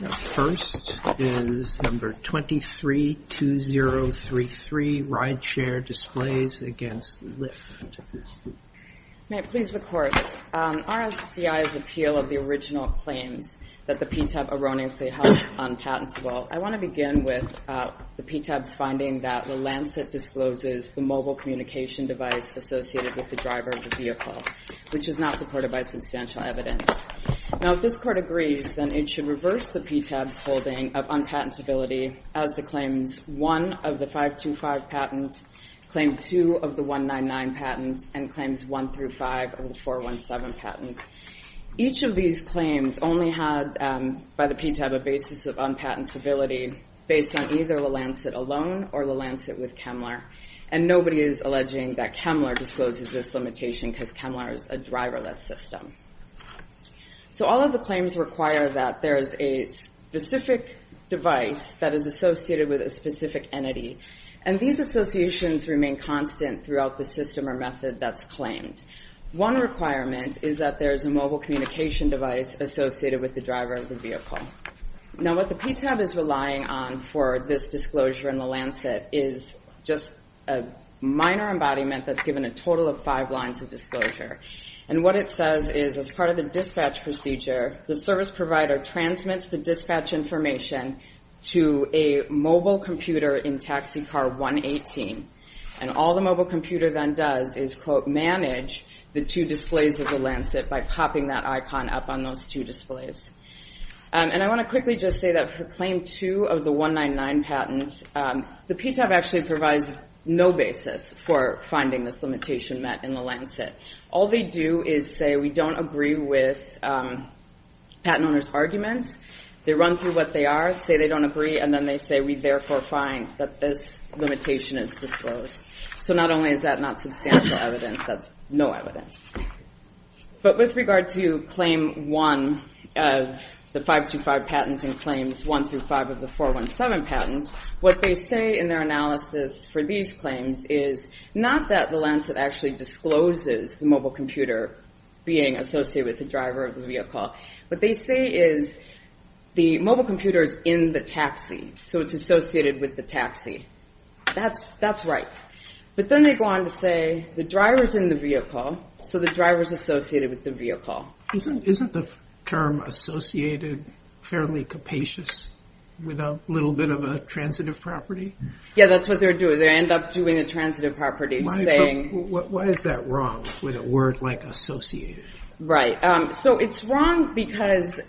The first is No. 23-2033, Rideshare Displays v. Lyft. May it please the Court, RSDI's appeal of the original claims that the PTAB erroneously held unpatentable, I want to begin with the PTAB's finding that the Lancet discloses the mobile communication device associated with the driver of the vehicle, which is not supported by substantial evidence. If this Court agrees, then it should reverse the PTAB's holding of unpatentability as to Claims 1 of the 525 patent, Claim 2 of the 199 patent, and Claims 1-5 of the 417 patent. Each of these claims only had, by the PTAB, a basis of unpatentability based on either the Lancet alone or the Lancet with Kemmler, and nobody is alleging that Kemmler discloses this limitation because Kemmler is a driverless system. So all of the claims require that there is a specific device that is associated with a specific entity, and these associations remain constant throughout the system or method that's claimed. One requirement is that there is a mobile communication device associated with the driver of the vehicle. Now what the PTAB is relying on for this disclosure in the Lancet is just a minor embodiment that's given a total of five lines of disclosure. And what it says is, as part of the dispatch procedure, the service provider transmits the dispatch information to a mobile computer in taxi car 118. And all the mobile computer then does is, quote, manage the two displays of the Lancet by popping that icon up on those two displays. And I want to quickly just say that for claim two of the 199 patents, the PTAB actually provides no basis for finding this limitation met in the Lancet. All they do is say, we don't agree with patent owners' arguments. They run through what they are, say they don't agree, and then they say, we therefore find that this limitation is disclosed. So not only is that not substantial evidence, that's no evidence. But with regard to claim one of the 525 patents and claims one through five of the 417 patents, what they say in their analysis for these claims is not that the Lancet actually discloses the mobile computer being associated with the driver of the vehicle. What they say is the mobile computer is in the taxi, so it's associated with the taxi. That's right. But then they go on to say the driver's in the vehicle, so the driver's associated with the vehicle. Isn't the term associated fairly capacious with a little bit of a transitive property? Yeah, that's what they're doing. They end up doing a transitive property. Why is that wrong with a word like associated? Right. So it's wrong because,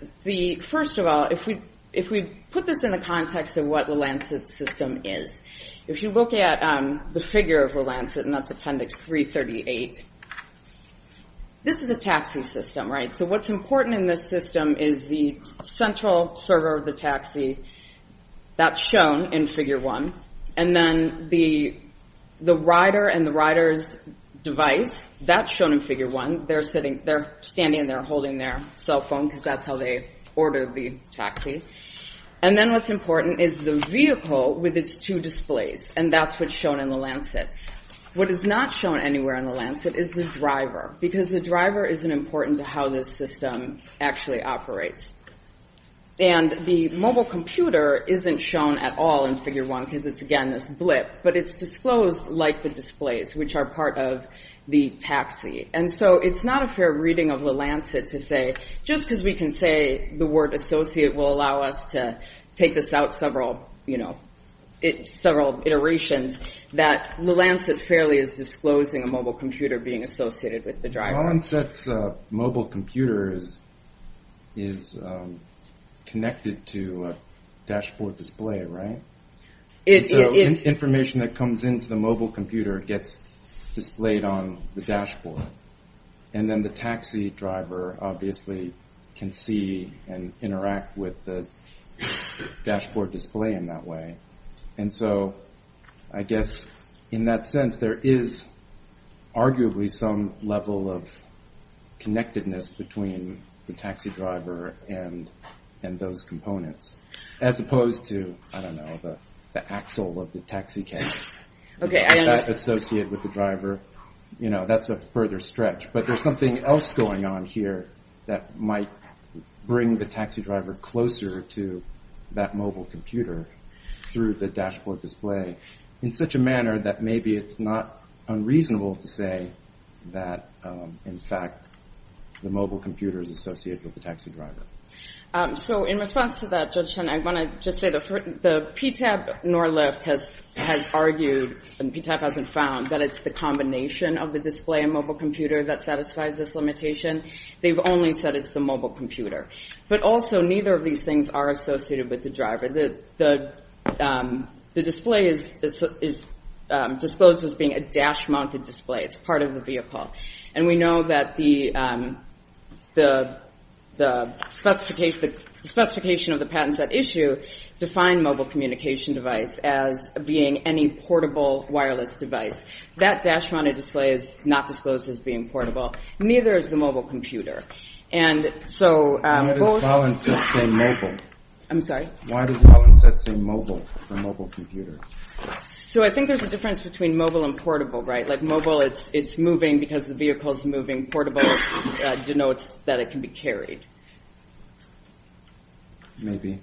first of all, if we put this in the context of what the Lancet system is, if you look at the figure of the Lancet, and that's Appendix 338, this is a taxi system, right? So what's important in this system is the central server of the taxi. That's shown in Figure 1. And then the rider and the rider's device, that's shown in Figure 1. They're standing there holding their cell phone because that's how they ordered the taxi. And then what's important is the vehicle with its two displays, and that's what's shown in the Lancet. What is not shown anywhere in the Lancet is the driver because the driver isn't important to how this system actually operates. And the mobile computer isn't shown at all in Figure 1 because it's, again, this blip, but it's disclosed like the displays, which are part of the taxi. And so it's not a fair reading of the Lancet to say, just because we can say the word associate will allow us to take this out several, you know, several iterations, that the Lancet fairly is disclosing a mobile computer being associated with the driver. Well, Lancet's mobile computer is connected to a dashboard display, right? And so information that comes into the mobile computer gets displayed on the dashboard. And then the taxi driver obviously can see and interact with the dashboard display in that way. And so I guess in that sense, there is arguably some level of connectedness between the taxi driver and those components, as opposed to, I don't know, the axle of the taxi cab, that's associated with the driver. You know, that's a further stretch. But there's something else going on here that might bring the taxi driver closer to that mobile computer through the dashboard display in such a manner that maybe it's not unreasonable to say that, in fact, the mobile computer is associated with the taxi driver. So in response to that, Judge Chen, I want to just say the PTAB, nor Lyft, has argued, and PTAB hasn't found, that it's the combination of the display and mobile computer that satisfies this limitation. They've only said it's the mobile computer. But also, neither of these things are associated with the driver. The display is disclosed as being a dash-mounted display. It's part of the vehicle. And we know that the specification of the patents that issue define mobile communication device as being any portable wireless device. That dash-mounted display is not disclosed as being portable. Neither is the mobile computer. And so both... Why does Valenset say mobile? I'm sorry? Why does Valenset say mobile for mobile computer? So I think there's a difference between mobile and portable, right? Like mobile, it's moving because the vehicle's moving. Portable denotes that it can be carried. Maybe.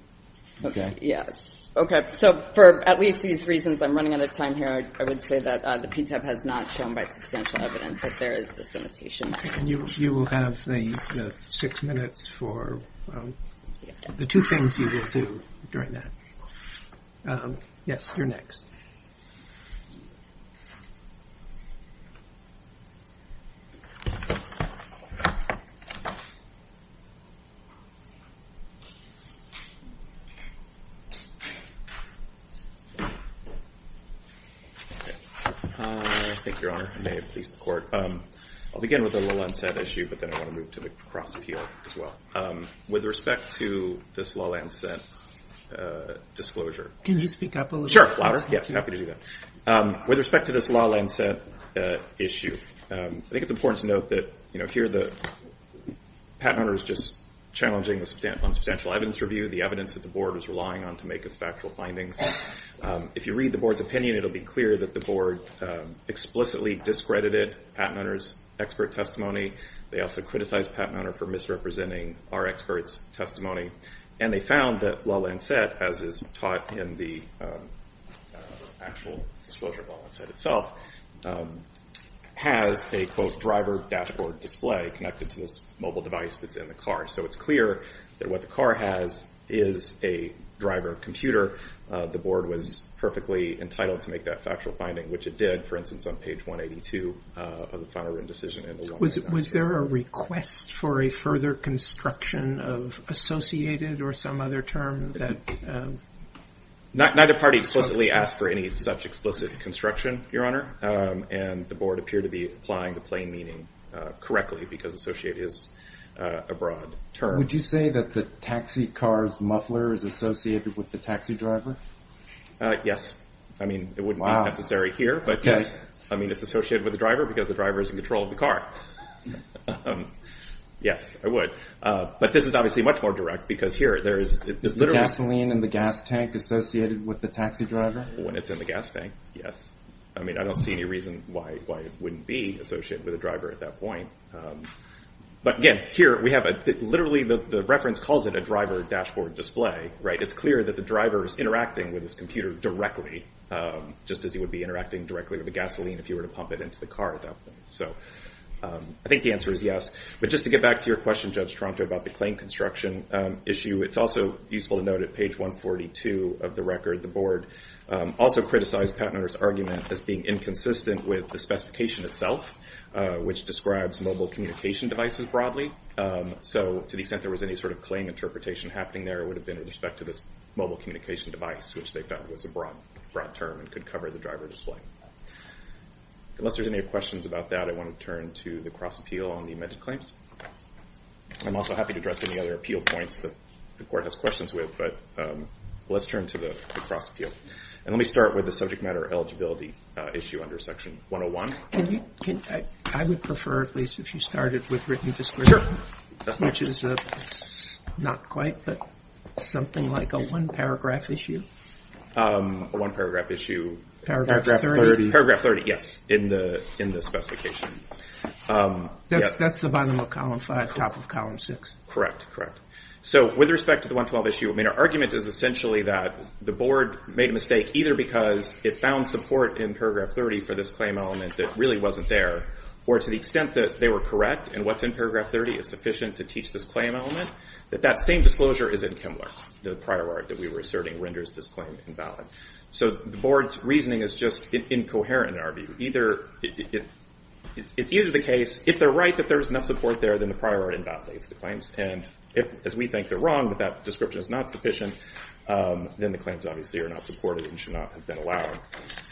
Okay. So for at least these reasons, I'm running out of time here. I would say that the PTAB has not shown by substantial evidence that there is this limitation. And you will have the six minutes for the two things you will do during that. Yes, you're next. I think, Your Honor, I may have pleased the court. I'll begin with the Valenset issue, but then I want to move to the cross-appeal as well. With respect to this Valenset disclosure... Can you speak up a little bit? Sure, louder. Yes, happy to do that. With respect to this Valenset issue, I think it's important to note that, you know, here the patent owner is just challenging on substantial evidence review, the evidence that the board is relying on to make its factual findings. If you read the board's opinion, it will be clear that the board explicitly discredited the patent owner's expert testimony. They also criticized the patent owner for misrepresenting our expert's testimony. And they found that Valenset, as is taught in the actual disclosure of Valenset itself, has a, quote, driver dashboard display connected to this mobile device that's in the car. So it's clear that what the car has is a driver computer. The board was perfectly entitled to make that factual finding, which it did, for instance, on page 182 of the final written decision. Was there a request for a further construction of associated or some other term? Neither party explicitly asked for any such explicit construction, Your Honor. And the board appeared to be applying the plain meaning correctly because associate is a broad term. Would you say that the taxi car's muffler is associated with the taxi driver? Yes. I mean, it wouldn't be necessary here. I mean, it's associated with the driver because the driver is in control of the car. Yes, I would. But this is obviously much more direct because here there is literally— Is the gasoline in the gas tank associated with the taxi driver? When it's in the gas tank, yes. I mean, I don't see any reason why it wouldn't be associated with the driver at that point. But again, here we have a—literally, the reference calls it a driver dashboard display. It's clear that the driver is interacting with this computer directly, just as he would be interacting directly with the gasoline if you were to pump it into the car at that point. So I think the answer is yes. But just to get back to your question, Judge Tronto, about the claim construction issue, it's also useful to note at page 142 of the record, the board also criticized Patent Owner's argument as being inconsistent with the specification itself, which describes mobile communication devices broadly. So to the extent there was any sort of claim interpretation happening there, it would have been with respect to this mobile communication device, which they found was a broad term and could cover the driver display. Unless there's any questions about that, I want to turn to the cross-appeal on the amended claims. I'm also happy to address any other appeal points that the court has questions with, but let's turn to the cross-appeal. And let me start with the subject matter eligibility issue under Section 101. Can you—I would prefer, at least, if you started with written description, which is not quite, but something like a one-paragraph issue. A one-paragraph issue. Paragraph 30. Paragraph 30, yes, in the specification. That's the bottom of column 5, top of column 6. Correct, correct. So with respect to the 112 issue, I mean, our argument is essentially that the board made a mistake, either because it found support in paragraph 30 for this claim element that really wasn't there, or to the extent that they were correct, and what's in paragraph 30 is sufficient to teach this claim element, that that same disclosure is in Kimbler. The prior art that we were asserting renders this claim invalid. So the board's reasoning is just incoherent in our view. Either—it's either the case, if they're right that there's enough support there, then the prior art invalidates the claims. And if, as we think, they're wrong, but that description is not sufficient, then the claims obviously are not supported and should not have been allowed.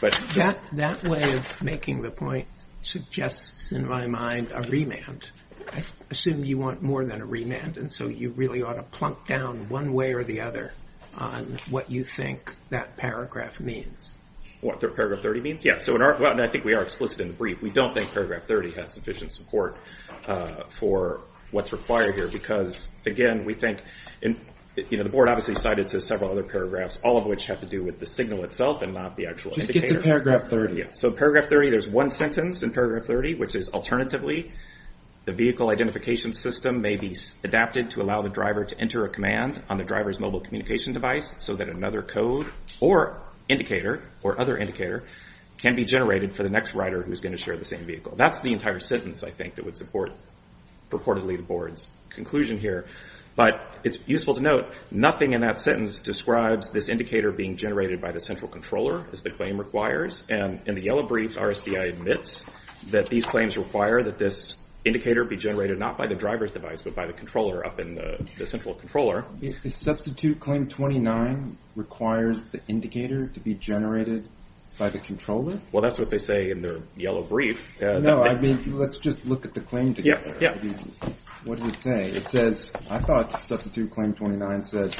That way of making the point suggests, in my mind, a remand. I assume you want more than a remand, and so you really ought to plunk down one way or the other on what you think that paragraph means. What paragraph 30 means? Yeah, so in our—well, I think we are explicit in the brief. We don't think paragraph 30 has sufficient support for what's required here, because, again, we think—you know, the board obviously cited several other paragraphs, all of which have to do with the signal itself and not the actual indicator. Just get to paragraph 30. Yeah, so paragraph 30, there's one sentence in paragraph 30, which is, alternatively, the vehicle identification system may be adapted to allow the driver to enter a command on the driver's mobile communication device so that another code or indicator or other indicator can be generated for the next rider who's going to share the same vehicle. That's the entire sentence, I think, that would support purportedly the board's conclusion here. But it's useful to note, nothing in that sentence describes this indicator being generated by the central controller as the claim requires. And in the yellow brief, RSDI admits that these claims require that this indicator be generated not by the driver's device but by the controller up in the central controller. Substitute claim 29 requires the indicator to be generated by the controller? Well, that's what they say in their yellow brief. No, I mean, let's just look at the claim together. Yeah, yeah. What does it say? It says, I thought substitute claim 29 said...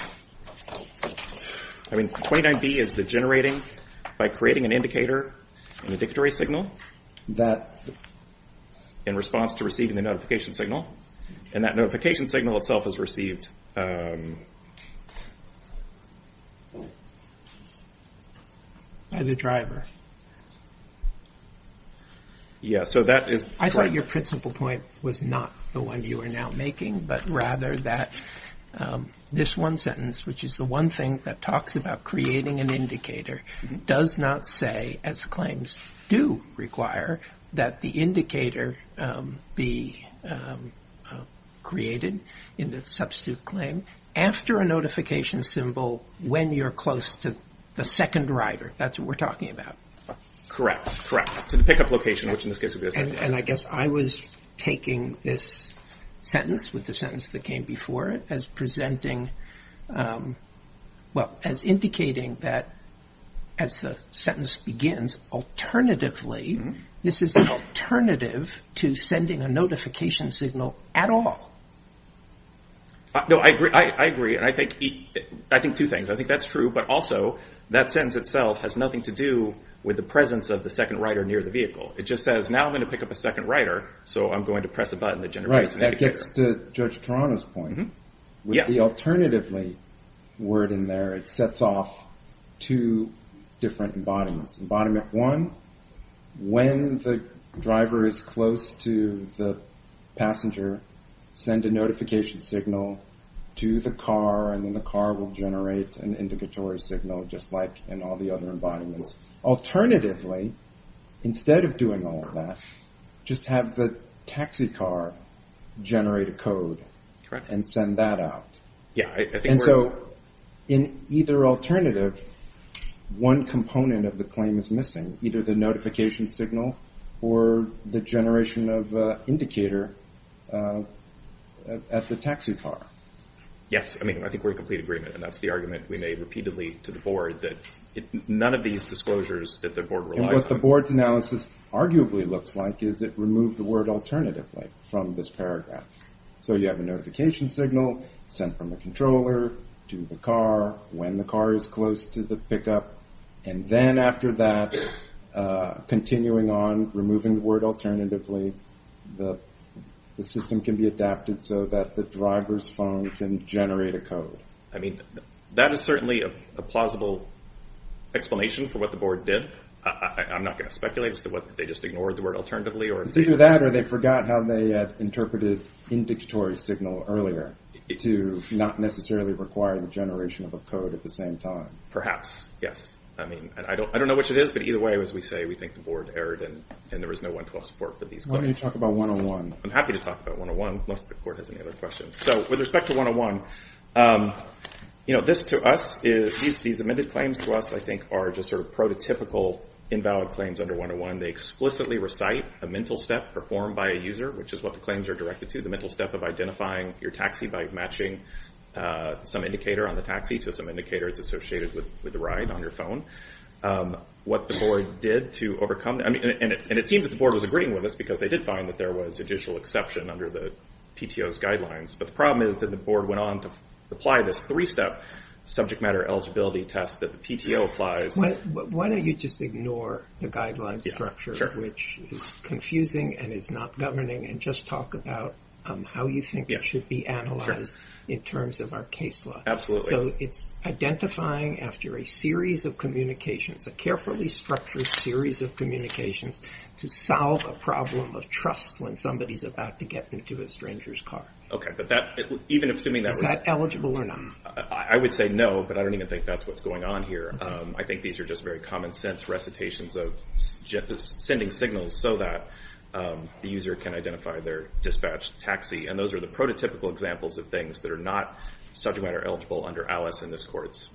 I mean, 29B is the generating by creating an indicator in the dictatory signal that in response to receiving the notification signal. And that notification signal itself is received... By the driver. Yeah, so that is... I thought your principal point was not the one you are now making, but rather that this one sentence, which is the one thing that talks about creating an indicator, does not say, as claims do require, that the indicator be created in the substitute claim after a notification symbol when you're close to the second rider. That's what we're talking about. Correct, correct. And I guess I was taking this sentence with the sentence that came before it as indicating that as the sentence begins, alternatively, this is an alternative to sending a notification signal at all. No, I agree, and I think two things. I think that's true, but also that sentence itself has nothing to do with the presence of the second rider near the vehicle. It just says, now I'm going to pick up a second rider, so I'm going to press a button that generates an indicator. Right, that gets to Judge Toronto's point. With the alternatively word in there, it sets off two different embodiments. Embodiment one, when the driver is close to the passenger, send a notification signal to the car, and then the car will generate an indicatory signal, just like in all the other embodiments. Alternatively, instead of doing all of that, just have the taxi car generate a code and send that out. And so in either alternative, one component of the claim is missing, either the notification signal or the generation of indicator at the taxi car. Yes, I mean, I think we're in complete agreement, and that's the argument we made repeatedly to the board, that none of these disclosures that the board relies on. And what the board's analysis arguably looks like is it removed the word alternatively from this paragraph. So you have a notification signal sent from the controller to the car when the car is close to the pickup, and then after that, continuing on, removing the word alternatively, the system can be adapted so that the driver's phone can generate a code. I mean, that is certainly a plausible explanation for what the board did. I'm not going to speculate as to whether they just ignored the word alternatively. Either that, or they forgot how they interpreted indicatory signal earlier to not necessarily require the generation of a code at the same time. Perhaps, yes. I mean, I don't know which it is, but either way, as we say, we think the board erred, and there was no 112 support for these claims. I'm going to talk about 101. I'm happy to talk about 101, unless the court has any other questions. So with respect to 101, these amended claims to us, I think, are just sort of prototypical invalid claims under 101. They explicitly recite a mental step performed by a user, which is what the claims are directed to, the mental step of identifying your taxi by matching some indicator on the taxi to some indicator that's associated with the ride on your phone. What the board did to overcome that, and it seemed that the board was agreeing with us, because they did find that there was judicial exception under the PTO's guidelines, but the problem is that the board went on to apply this three-step subject matter eligibility test that the PTO applies. Why don't you just ignore the guideline structure, which is confusing and is not governing, and just talk about how you think it should be analyzed in terms of our case law. Absolutely. So it's identifying after a series of communications, a carefully structured series of communications to solve a problem of trust when somebody's about to get into a stranger's car. Okay. Is that eligible or not? I would say no, but I don't even think that's what's going on here. I think these are just very common sense recitations of sending signals so that the user can identify their dispatched taxi, and those are the prototypical examples of things that are not subject matter eligible under Alice and this court's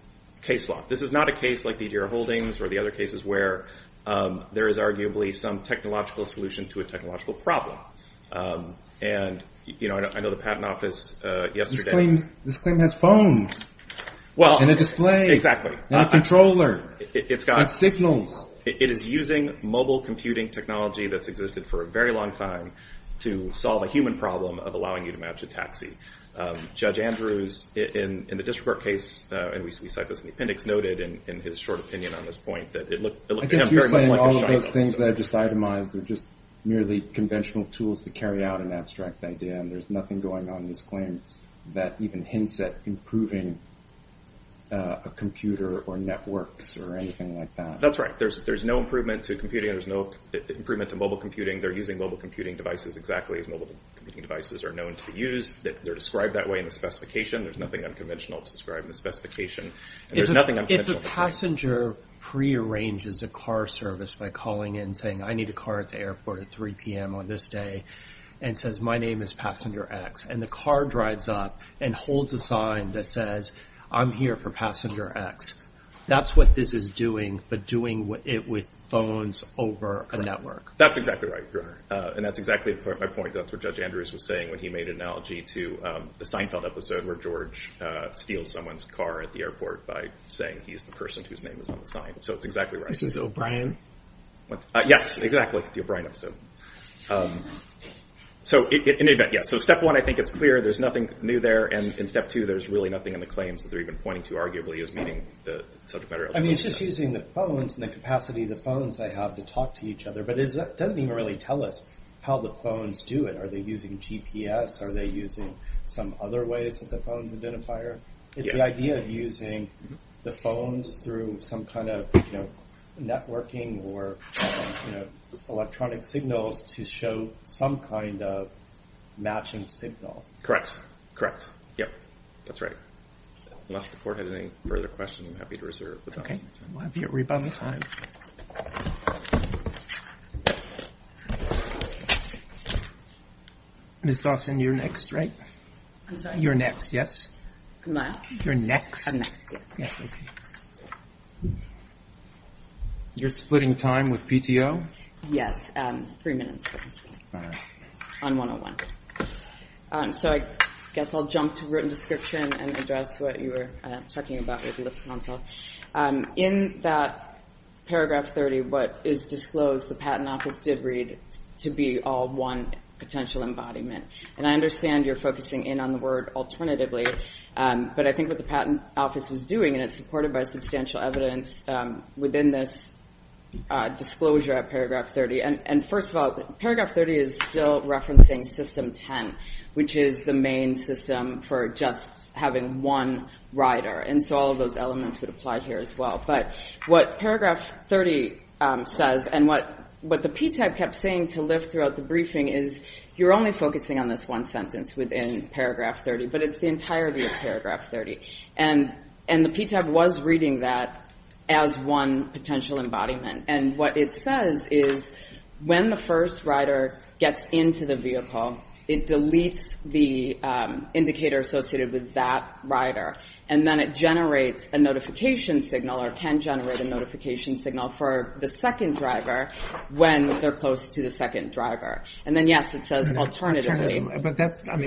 case law. This is not a case like the Deere holdings or the other cases where there is arguably some technological solution to a technological problem. And, you know, I know the Patent Office yesterday. This claim has phones and a display. Not a controller. It's got signals. It is using mobile computing technology that's existed for a very long time to solve a human problem of allowing you to match a taxi. Judge Andrews, in the district court case, and we cite this in the appendix, noted in his short opinion on this point that it looked to him very much like a shark. I guess you're saying all of those things that I just itemized are just merely conventional tools to carry out an abstract idea and there's nothing going on in this claim that even hints at improving a computer or networks or anything like that. That's right. There's no improvement to computing. There's no improvement to mobile computing. They're using mobile computing devices exactly as mobile computing devices are known to be used. They're described that way in the specification. There's nothing unconventional to describe in the specification. There's nothing unconventional. If a passenger prearranges a car service by calling in, saying I need a car at the airport at 3 p.m. on this day, and says my name is passenger X, and the car drives up and holds a sign that says I'm here for passenger X, that's what this is doing, but doing it with phones over a network. That's exactly right, Your Honor. And that's exactly my point. That's what Judge Andrews was saying when he made an analogy to the Seinfeld episode where George steals someone's car at the airport by saying he's the person whose name is on the sign. So it's exactly right. This is O'Brien? Yes, exactly. The O'Brien episode. So step one, I think it's clear there's nothing new there, and in step two there's really nothing in the claims that they're even pointing to arguably as meeting the subject matter. I mean, it's just using the phones and the capacity of the phones they have to talk to each other, but it doesn't even really tell us how the phones do it. Are they using GPS? Are they using some other ways that the phones identify? It's the idea of using the phones through some kind of networking or electronic signals to show some kind of matching signal. Correct. Yep, that's right. Unless the Court has any further questions, I'm happy to reserve the time. Okay. We'll have your rebuttal time. Ms. Dawson, you're next, right? I'm sorry? You're next, yes? Am I up? You're next? I'm next, yes. Yes, okay. You're splitting time with PTO? Yes, three minutes. All right. On 101. So I guess I'll jump to written description and address what you were talking about with the LIPS Council. In that Paragraph 30, what is disclosed, the Patent Office did read, to be all one potential embodiment. And I understand you're focusing in on the word alternatively, but I think what the Patent Office was doing, and it's supported by substantial evidence within this disclosure at Paragraph 30. And first of all, Paragraph 30 is still referencing System 10, which is the main system for just having one rider. And so all of those elements would apply here as well. But what Paragraph 30 says, and what the PTAB kept saying to lift throughout the briefing, is you're only focusing on this one sentence within Paragraph 30, but it's the entirety of Paragraph 30. And the PTAB was reading that as one potential embodiment. And what it says is when the first rider gets into the vehicle, it deletes the indicator associated with that rider. And then it generates a notification signal, or can generate a notification signal for the second driver when they're close to the second driver. And then, yes, it says alternatively. But that's kind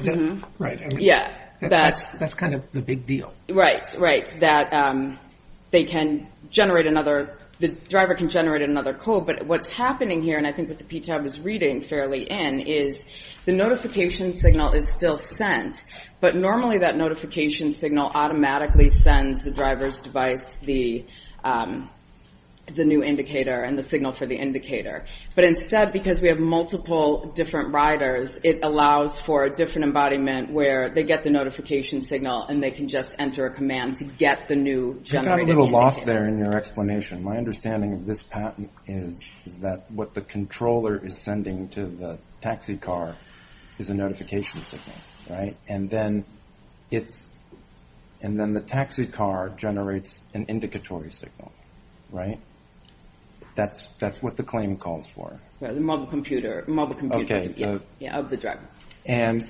of the big deal. Right, right, that they can generate another, the driver can generate another code. But what's happening here, and I think what the PTAB is reading fairly in, is the notification signal is still sent. But normally that notification signal automatically sends the driver's device the new indicator and the signal for the indicator. But instead, because we have multiple different riders, it allows for a different embodiment where they get the notification signal and they can just enter a command to get the new generated indicator. I got a little lost there in your explanation. My understanding of this patent is that what the controller is sending to the taxi car is a notification signal, right? And then the taxi car generates an indicatory signal, right? That's what the claim calls for. The mobile computer, mobile computer. Yeah, of the driver. And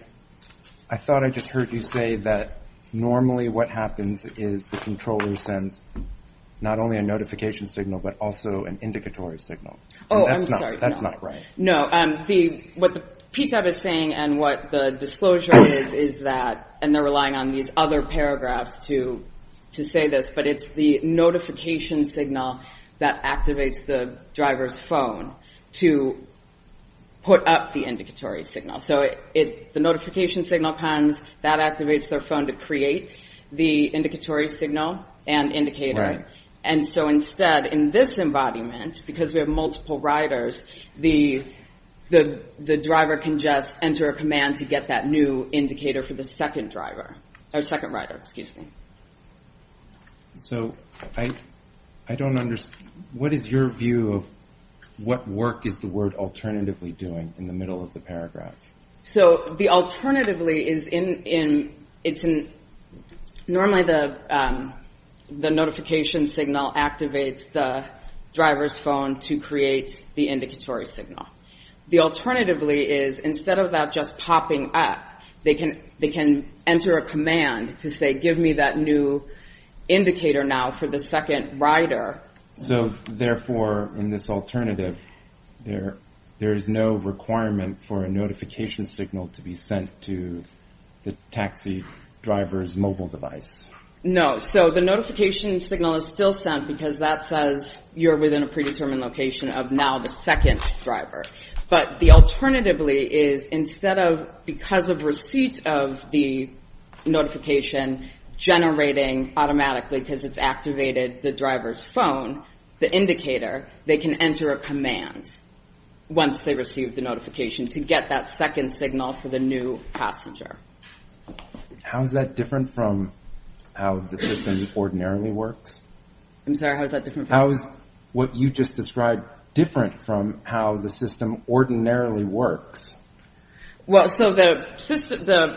I thought I just heard you say that normally what happens is the controller sends not only a notification signal, but also an indicatory signal. Oh, I'm sorry. That's not right. No, what the PTAB is saying and what the disclosure is, is that, and they're relying on these other paragraphs to say this, but it's the notification signal that activates the driver's phone to put up the indicatory signal. So the notification signal comes, that activates their phone to create the indicatory signal and indicator. And so instead, in this embodiment, because we have multiple riders, the driver can just enter a command to get that new indicator for the second driver, or second rider, excuse me. So I don't understand. What is your view of what work is the word alternatively doing in the middle of the paragraph? So the alternatively is in, normally the notification signal activates the driver's phone to create the indicatory signal. The alternatively is instead of that just popping up, they can enter a command to say give me that new indicator now for the second rider. So therefore, in this alternative, there is no requirement for a notification signal to be sent to the taxi driver's mobile device. So the notification signal is still sent because that says you're within a predetermined location of now the second driver. But the alternatively is instead of, because of receipt of the notification generating automatically because it's activated the driver's phone, the indicator, they can enter a command once they receive the notification to get that second signal for the new passenger. How is that different from how the system ordinarily works? I'm sorry, how is that different? How is what you just described different from how the system ordinarily works? Well, so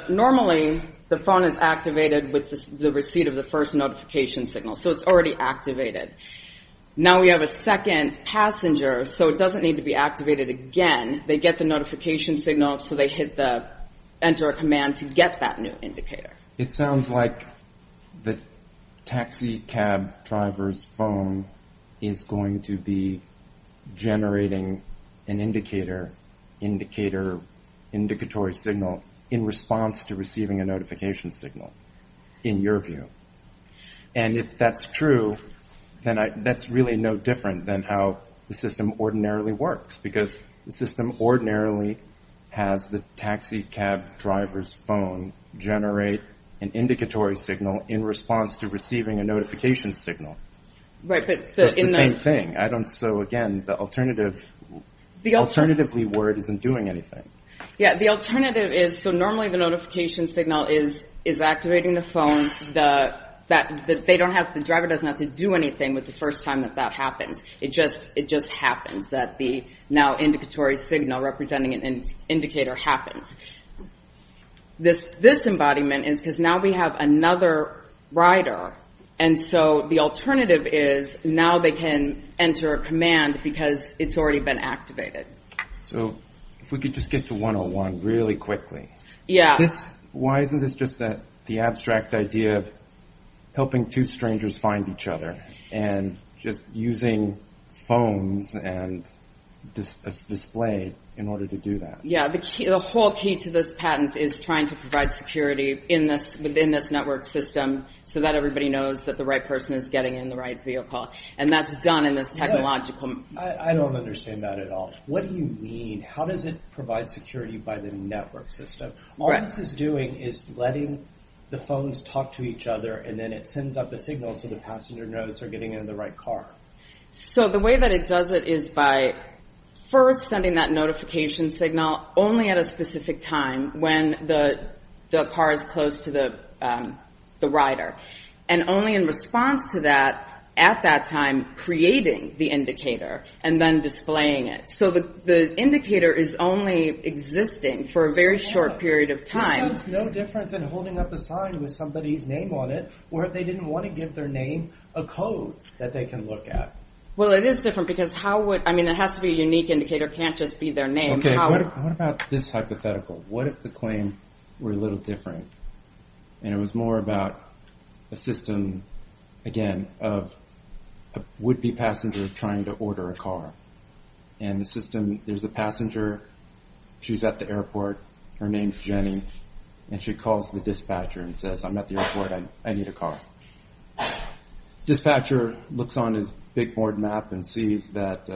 normally the phone is activated with the receipt of the first notification signal. So it's already activated. Now we have a second passenger, so it doesn't need to be activated again. They get the notification signal, so they hit the enter command to get that new indicator. It sounds like the taxi cab driver's phone is going to be generating an indicator, indicator, indicatory signal in response to receiving a notification signal in your view. And if that's true, then that's really no different than how the system ordinarily works because the system ordinarily has the taxi cab driver's phone generate an indicatory signal in response to receiving a notification signal. It's the same thing. So again, the alternatively word isn't doing anything. Yeah, the alternative is, so normally the notification signal is activating the phone. The driver doesn't have to do anything with the first time that that happens. It just happens that the now indicatory signal representing an indicator happens. This embodiment is because now we have another rider, and so the alternative is now they can enter a command because it's already been activated. So if we could just get to 101 really quickly. Yeah. Why isn't this just the abstract idea of helping two strangers find each other and just using phones and a display in order to do that? Yeah, the whole key to this patent is trying to provide security within this network system so that everybody knows that the right person is getting in the right vehicle, and that's done in this technological. I don't understand that at all. What do you mean? How does it provide security by the network system? All this is doing is letting the phones talk to each other, and then it sends up a signal so the passenger knows they're getting in the right car. So the way that it does it is by first sending that notification signal only at a specific time when the car is close to the rider, and only in response to that at that time creating the indicator and then displaying it. So the indicator is only existing for a very short period of time. This sounds no different than holding up a sign with somebody's name on it where they didn't want to give their name a code that they can look at. Well, it is different because how would... I mean, it has to be a unique indicator. It can't just be their name. Okay, what about this hypothetical? What if the claim were a little different, and it was more about a system, again, of a would-be passenger trying to order a car, and the system, there's a passenger. She's at the airport. Her name's Jenny, and she calls the dispatcher and says, I'm at the airport. I need a car. Dispatcher looks on his big board map and sees that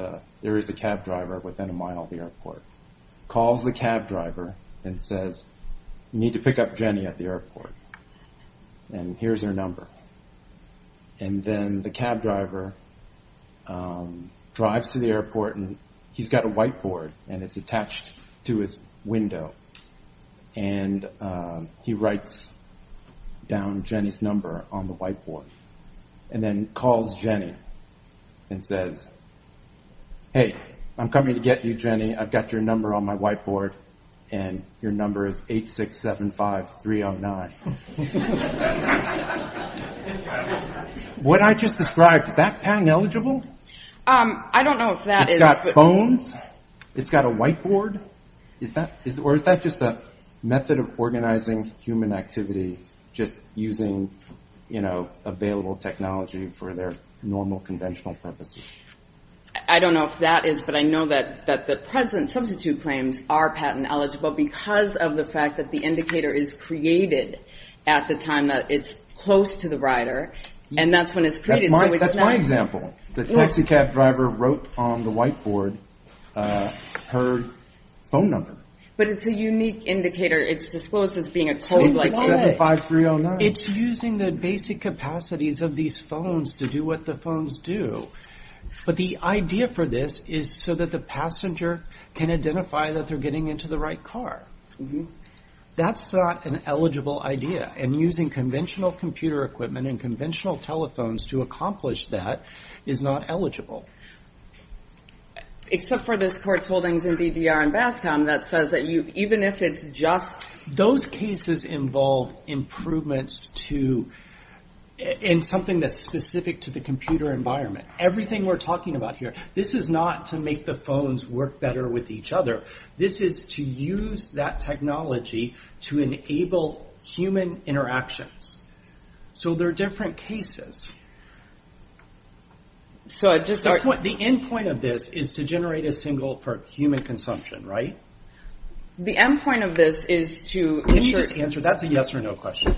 there is a cab driver within a mile of the airport, calls the cab driver and says, you need to pick up Jenny at the airport, and here's her number, and then the cab driver drives to the airport, and he's got a whiteboard, and it's attached to his window, and he writes down Jenny's number on the whiteboard and then calls Jenny and says, hey, I'm coming to get you, Jenny. I've got your number on my whiteboard, and your number is 8675309. What I just described, is that patent eligible? I don't know if that is. It's got phones? It's got a whiteboard? Or is that just a method of organizing human activity, just using available technology for their normal conventional purposes? I don't know if that is, but I know that the present substitute claims are patent eligible because of the fact that the indicator is created at the time that it's close to the rider, and that's when it's created. That's my example. The taxi cab driver wrote on the whiteboard her phone number. But it's a unique indicator. It's disclosed as being a code like that. It's using the basic capacities of these phones to do what the phones do, but the idea for this is so that the passenger can identify that they're getting into the right car. That's not an eligible idea, and using conventional computer equipment and conventional telephones to accomplish that is not eligible. Except for this court's holdings in DDR and BASCOM that says that even if it's just... Those cases involve improvements to... in something that's specific to the computer environment. Everything we're talking about here, this is not to make the phones work better with each other. This is to use that technology to enable human interactions. So there are different cases. The end point of this is to generate a signal for human consumption, right? The end point of this is to... Can you just answer? That's a yes or no question.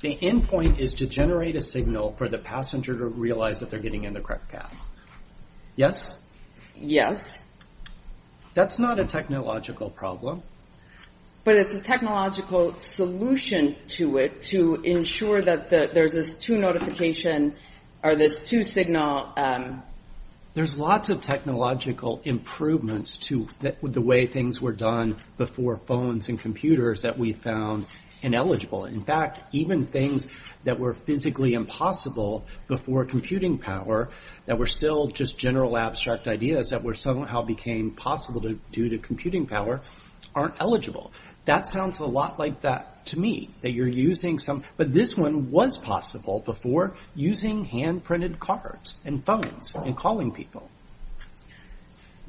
The end point is to generate a signal for the passenger to realize that they're getting in the correct path. Yes? Yes. That's not a technological problem. But it's a technological solution to it to ensure that there's this two notification... or this two signal... There's lots of technological improvements to the way things were done before phones and computers that we found ineligible. In fact, even things that were physically impossible before computing power that were still just general abstract ideas that somehow became possible due to computing power aren't eligible. That sounds a lot like that to me, that you're using some... But this one was possible before using hand-printed cards and phones and calling people.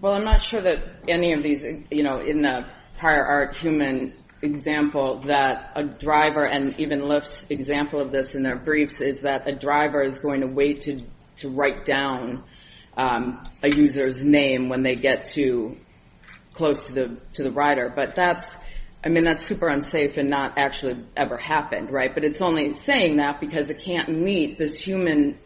Well, I'm not sure that any of these... In the prior art human example, that a driver... And even Lips' example of this in their briefs is that a driver is going to wait to write down a user's name when they get too close to the rider. But that's super unsafe and not actually ever happened, right? But it's only saying that because it can't meet this human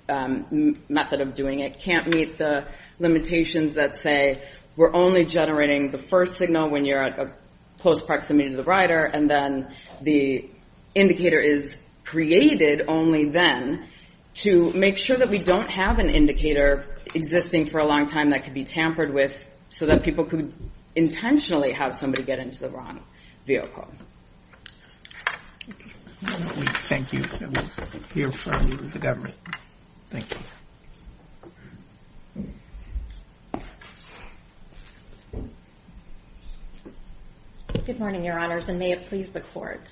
method of doing it, can't meet the limitations that say we're only generating the first signal when you're at a close proximity to the rider, and then the indicator is created only then to make sure that we don't have an indicator existing for a long time that could be tampered with so that people could intentionally have somebody get into the wrong vehicle. Thank you. I'm here for the government. Thank you. Good morning, Your Honors, and may it please the Court.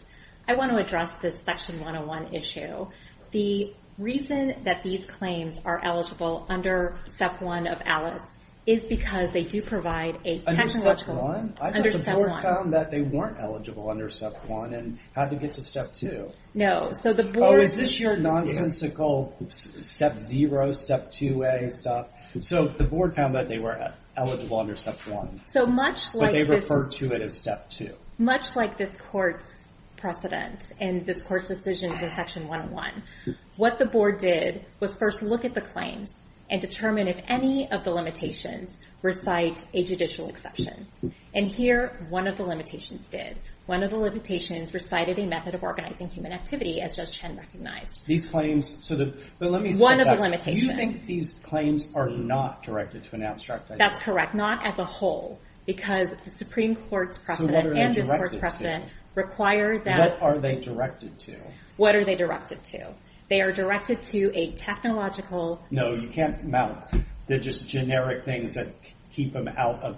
I want to address this Section 101 issue. The reason that these claims are eligible under Step 1 of ALICE is because they do provide a technological... Under Step 1? Under Step 1. I thought the Board found that they weren't eligible under Step 1 and had to get to Step 2. No, so the Board... Oh, is this your nonsensical Step 0, Step 2A stuff? So the Board found that they were eligible under Step 1. So much like this... But they refer to it as Step 2. Much like this Court's precedent and this Court's decisions in Section 101. What the Board did was first look at the claims and determine if any of the limitations recite a judicial exception. And here, one of the limitations did. One of the limitations recited a method of organizing human activity, as Judge Chen recognized. These claims... But let me step back. One of the limitations. Do you think that these claims are not directed to an abstract idea? That's correct. Not as a whole, because the Supreme Court's precedent and this Court's precedent require that... What are they directed to? What are they directed to? They are directed to a technological... No, you can't mount... They're just generic things that keep them out of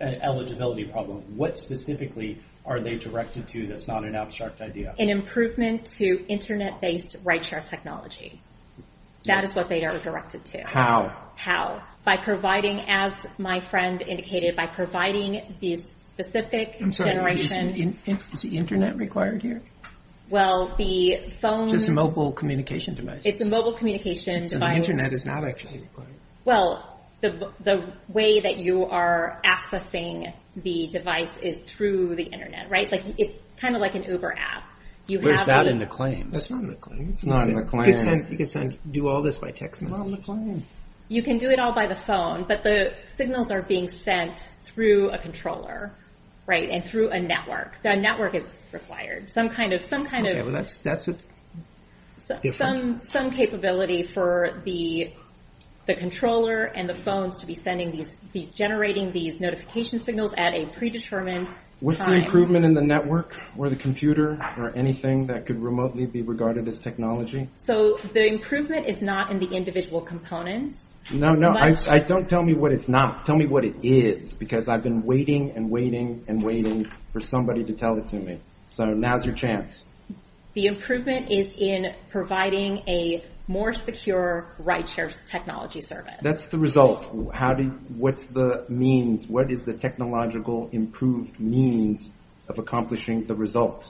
an eligibility problem. What specifically are they directed to that's not an abstract idea? An improvement to internet-based ride-share technology. That is what they are directed to. How? How? By providing, as my friend indicated, by providing these specific generation... Is the internet required here? Well, the phones... Just mobile communication devices. It's a mobile communication device. So the internet is not actually required. Well, the way that you are accessing the device is through the internet, right? It's kind of like an Uber app. Where's that in the claims? That's not in the claims. It's not in the claims. You can do all this by text message. It's not in the claims. You can do it all by the phone, but the signals are being sent through a controller, right? And through a network. A network is required. Some kind of... That's a different... Some capability for the controller and the phones to be generating these notification signals at a predetermined time. What's the improvement in the network or the computer or anything that could remotely be regarded as technology? So the improvement is not in the individual components. No, no. Don't tell me what it's not. Tell me what it is. Because I've been waiting and waiting and waiting for somebody to tell it to me. So now's your chance. The improvement is in providing a more secure ride share technology service. That's the result. How do you... What's the means? What is the technological improved means of accomplishing the result?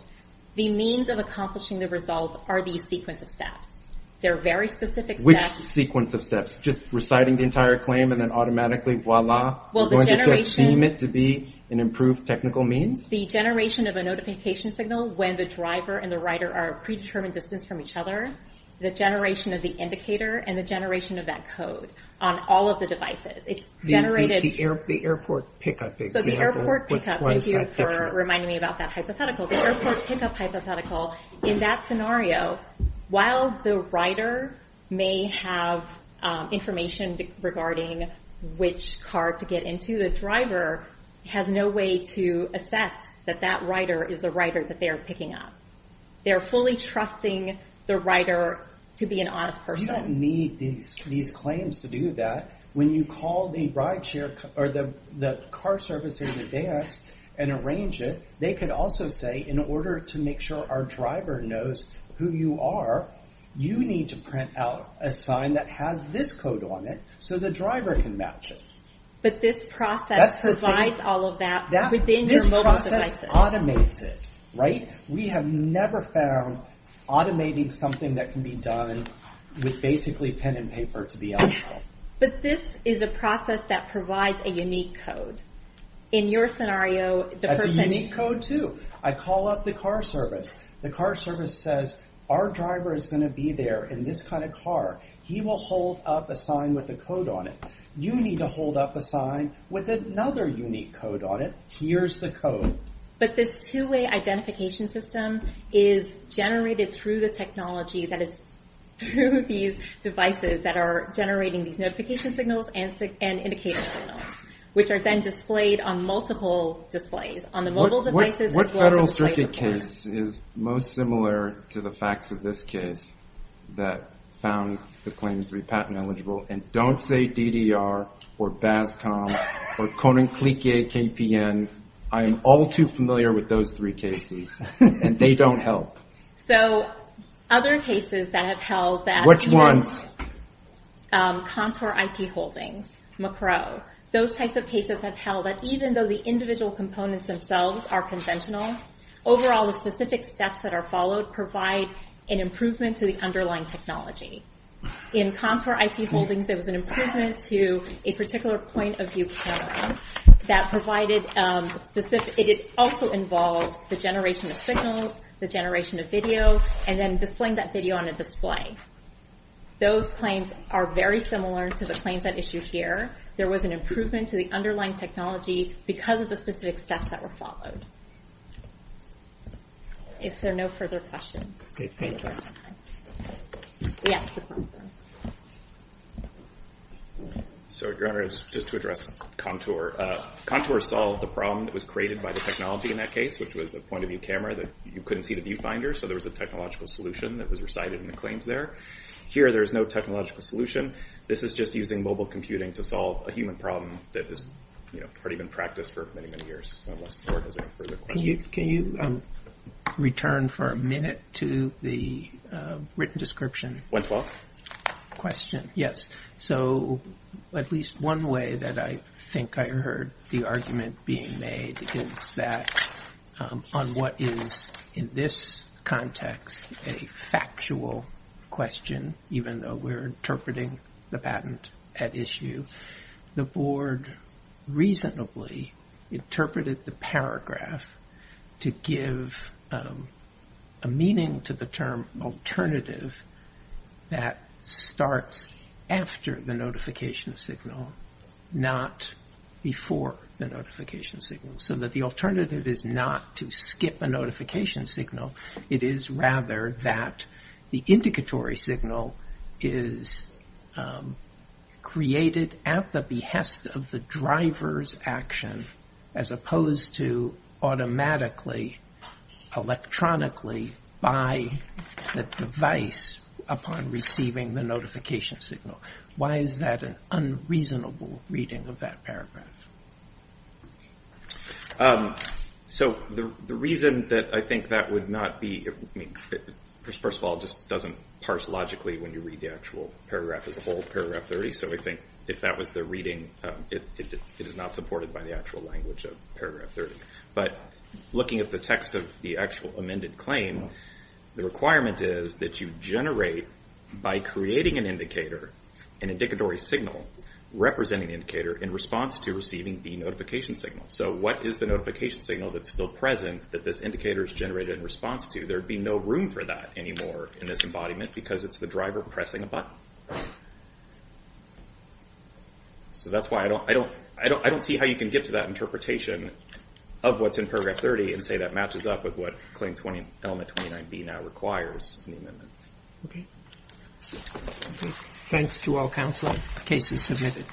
The means of accomplishing the result are these sequence of steps. They're very specific steps. Which sequence of steps? Just reciting the entire claim and then automatically, voila? Well, the generation... Do you deem it to be an improved technical means? The generation of a notification signal when the driver and the rider are a predetermined distance from each other. The generation of the indicator and the generation of that code on all of the devices. It's generated... The airport pickup example. So the airport pickup. Thank you for reminding me about that hypothetical. The airport pickup hypothetical. In that scenario, while the rider may have information regarding which car to get into, the driver has no way to assess that that rider is the rider that they are picking up. They're fully trusting the rider to be an honest person. You don't need these claims to do that. When you call the car service in advance and arrange it, they could also say, in order to make sure our driver knows who you are, you need to print out a sign that has this code on it so the driver can match it. But this process provides all of that within your mobile devices. This process automates it, right? We have never found automating something that can be done with basically pen and paper to be on file. But this is a process that provides a unique code. In your scenario, the person... That's a unique code too. I call up the car service. The car service says, our driver is going to be there in this kind of car. He will hold up a sign with a code on it. You need to hold up a sign with another unique code on it. Here's the code. But this two-way identification system is generated through the technology that is through these devices that are generating these notification signals and indicator signals, which are then displayed on multiple displays. On the mobile devices, as well as a display report. What Federal Circuit case is most similar to the facts of this case that found the claims to be patent eligible? And don't say DDR, or BASCOM, or Koninklijke KPN. I am all too familiar with those three cases. And they don't help. So, other cases that have held that... Which ones? Contour IP holdings, Macro. Those types of cases have held that even though the individual components themselves are conventional, overall the specific steps that are followed provide an improvement to the underlying technology. In Contour IP holdings, there was an improvement to a particular point of view that provided specific... It also involved the generation of signals, the generation of video, and then displaying that video on a display. Those claims are very similar to the claims at issue here. There was an improvement to the underlying technology because of the specific steps that were followed. If there are no further questions... Okay, thank you. So, Your Honor, just to address Contour. Contour solved the problem that was created by the technology in that case, which was a point of view camera that you couldn't see the viewfinder, so there was a technological solution that was recited in the claims there. Here, there is no technological solution. This is just using mobile computing to solve a human problem that has already been practiced for many, many years. Unless the Court has any further questions. Your Honor, can you return for a minute to the written description? Went well? Question, yes. So, at least one way that I think I heard the argument being made is that on what is, in this context, a factual question, even though we're interpreting the patent at issue, the Board reasonably interpreted the paragraph to give a meaning to the term alternative that starts after the notification signal, not before the notification signal, so that the alternative is not to skip a notification signal. It is, rather, that the indicatory signal is created at the behest of the driver's action, as opposed to automatically, electronically, by the device upon receiving the notification signal. Why is that an unreasonable reading of that paragraph? So, the reason that I think that would not be... First of all, it just doesn't parse logically when you read the actual paragraph as a whole, paragraph 30. So, I think if that was the reading, it is not supported by the actual language of paragraph 30. But looking at the text of the actual amended claim, the requirement is that you generate, by creating an indicator, an indicatory signal representing the indicator in response to receiving the notification signal. So, what is the notification signal that's still present that this indicator is generated in response to? There would be no room for that anymore in this embodiment, because it's the driver pressing a button. So, that's why I don't see how you can get to that interpretation of what's in paragraph 30 and say that matches up with what Claim Element 29B now requires in the amendment. Thanks to all counsel. Case is submitted.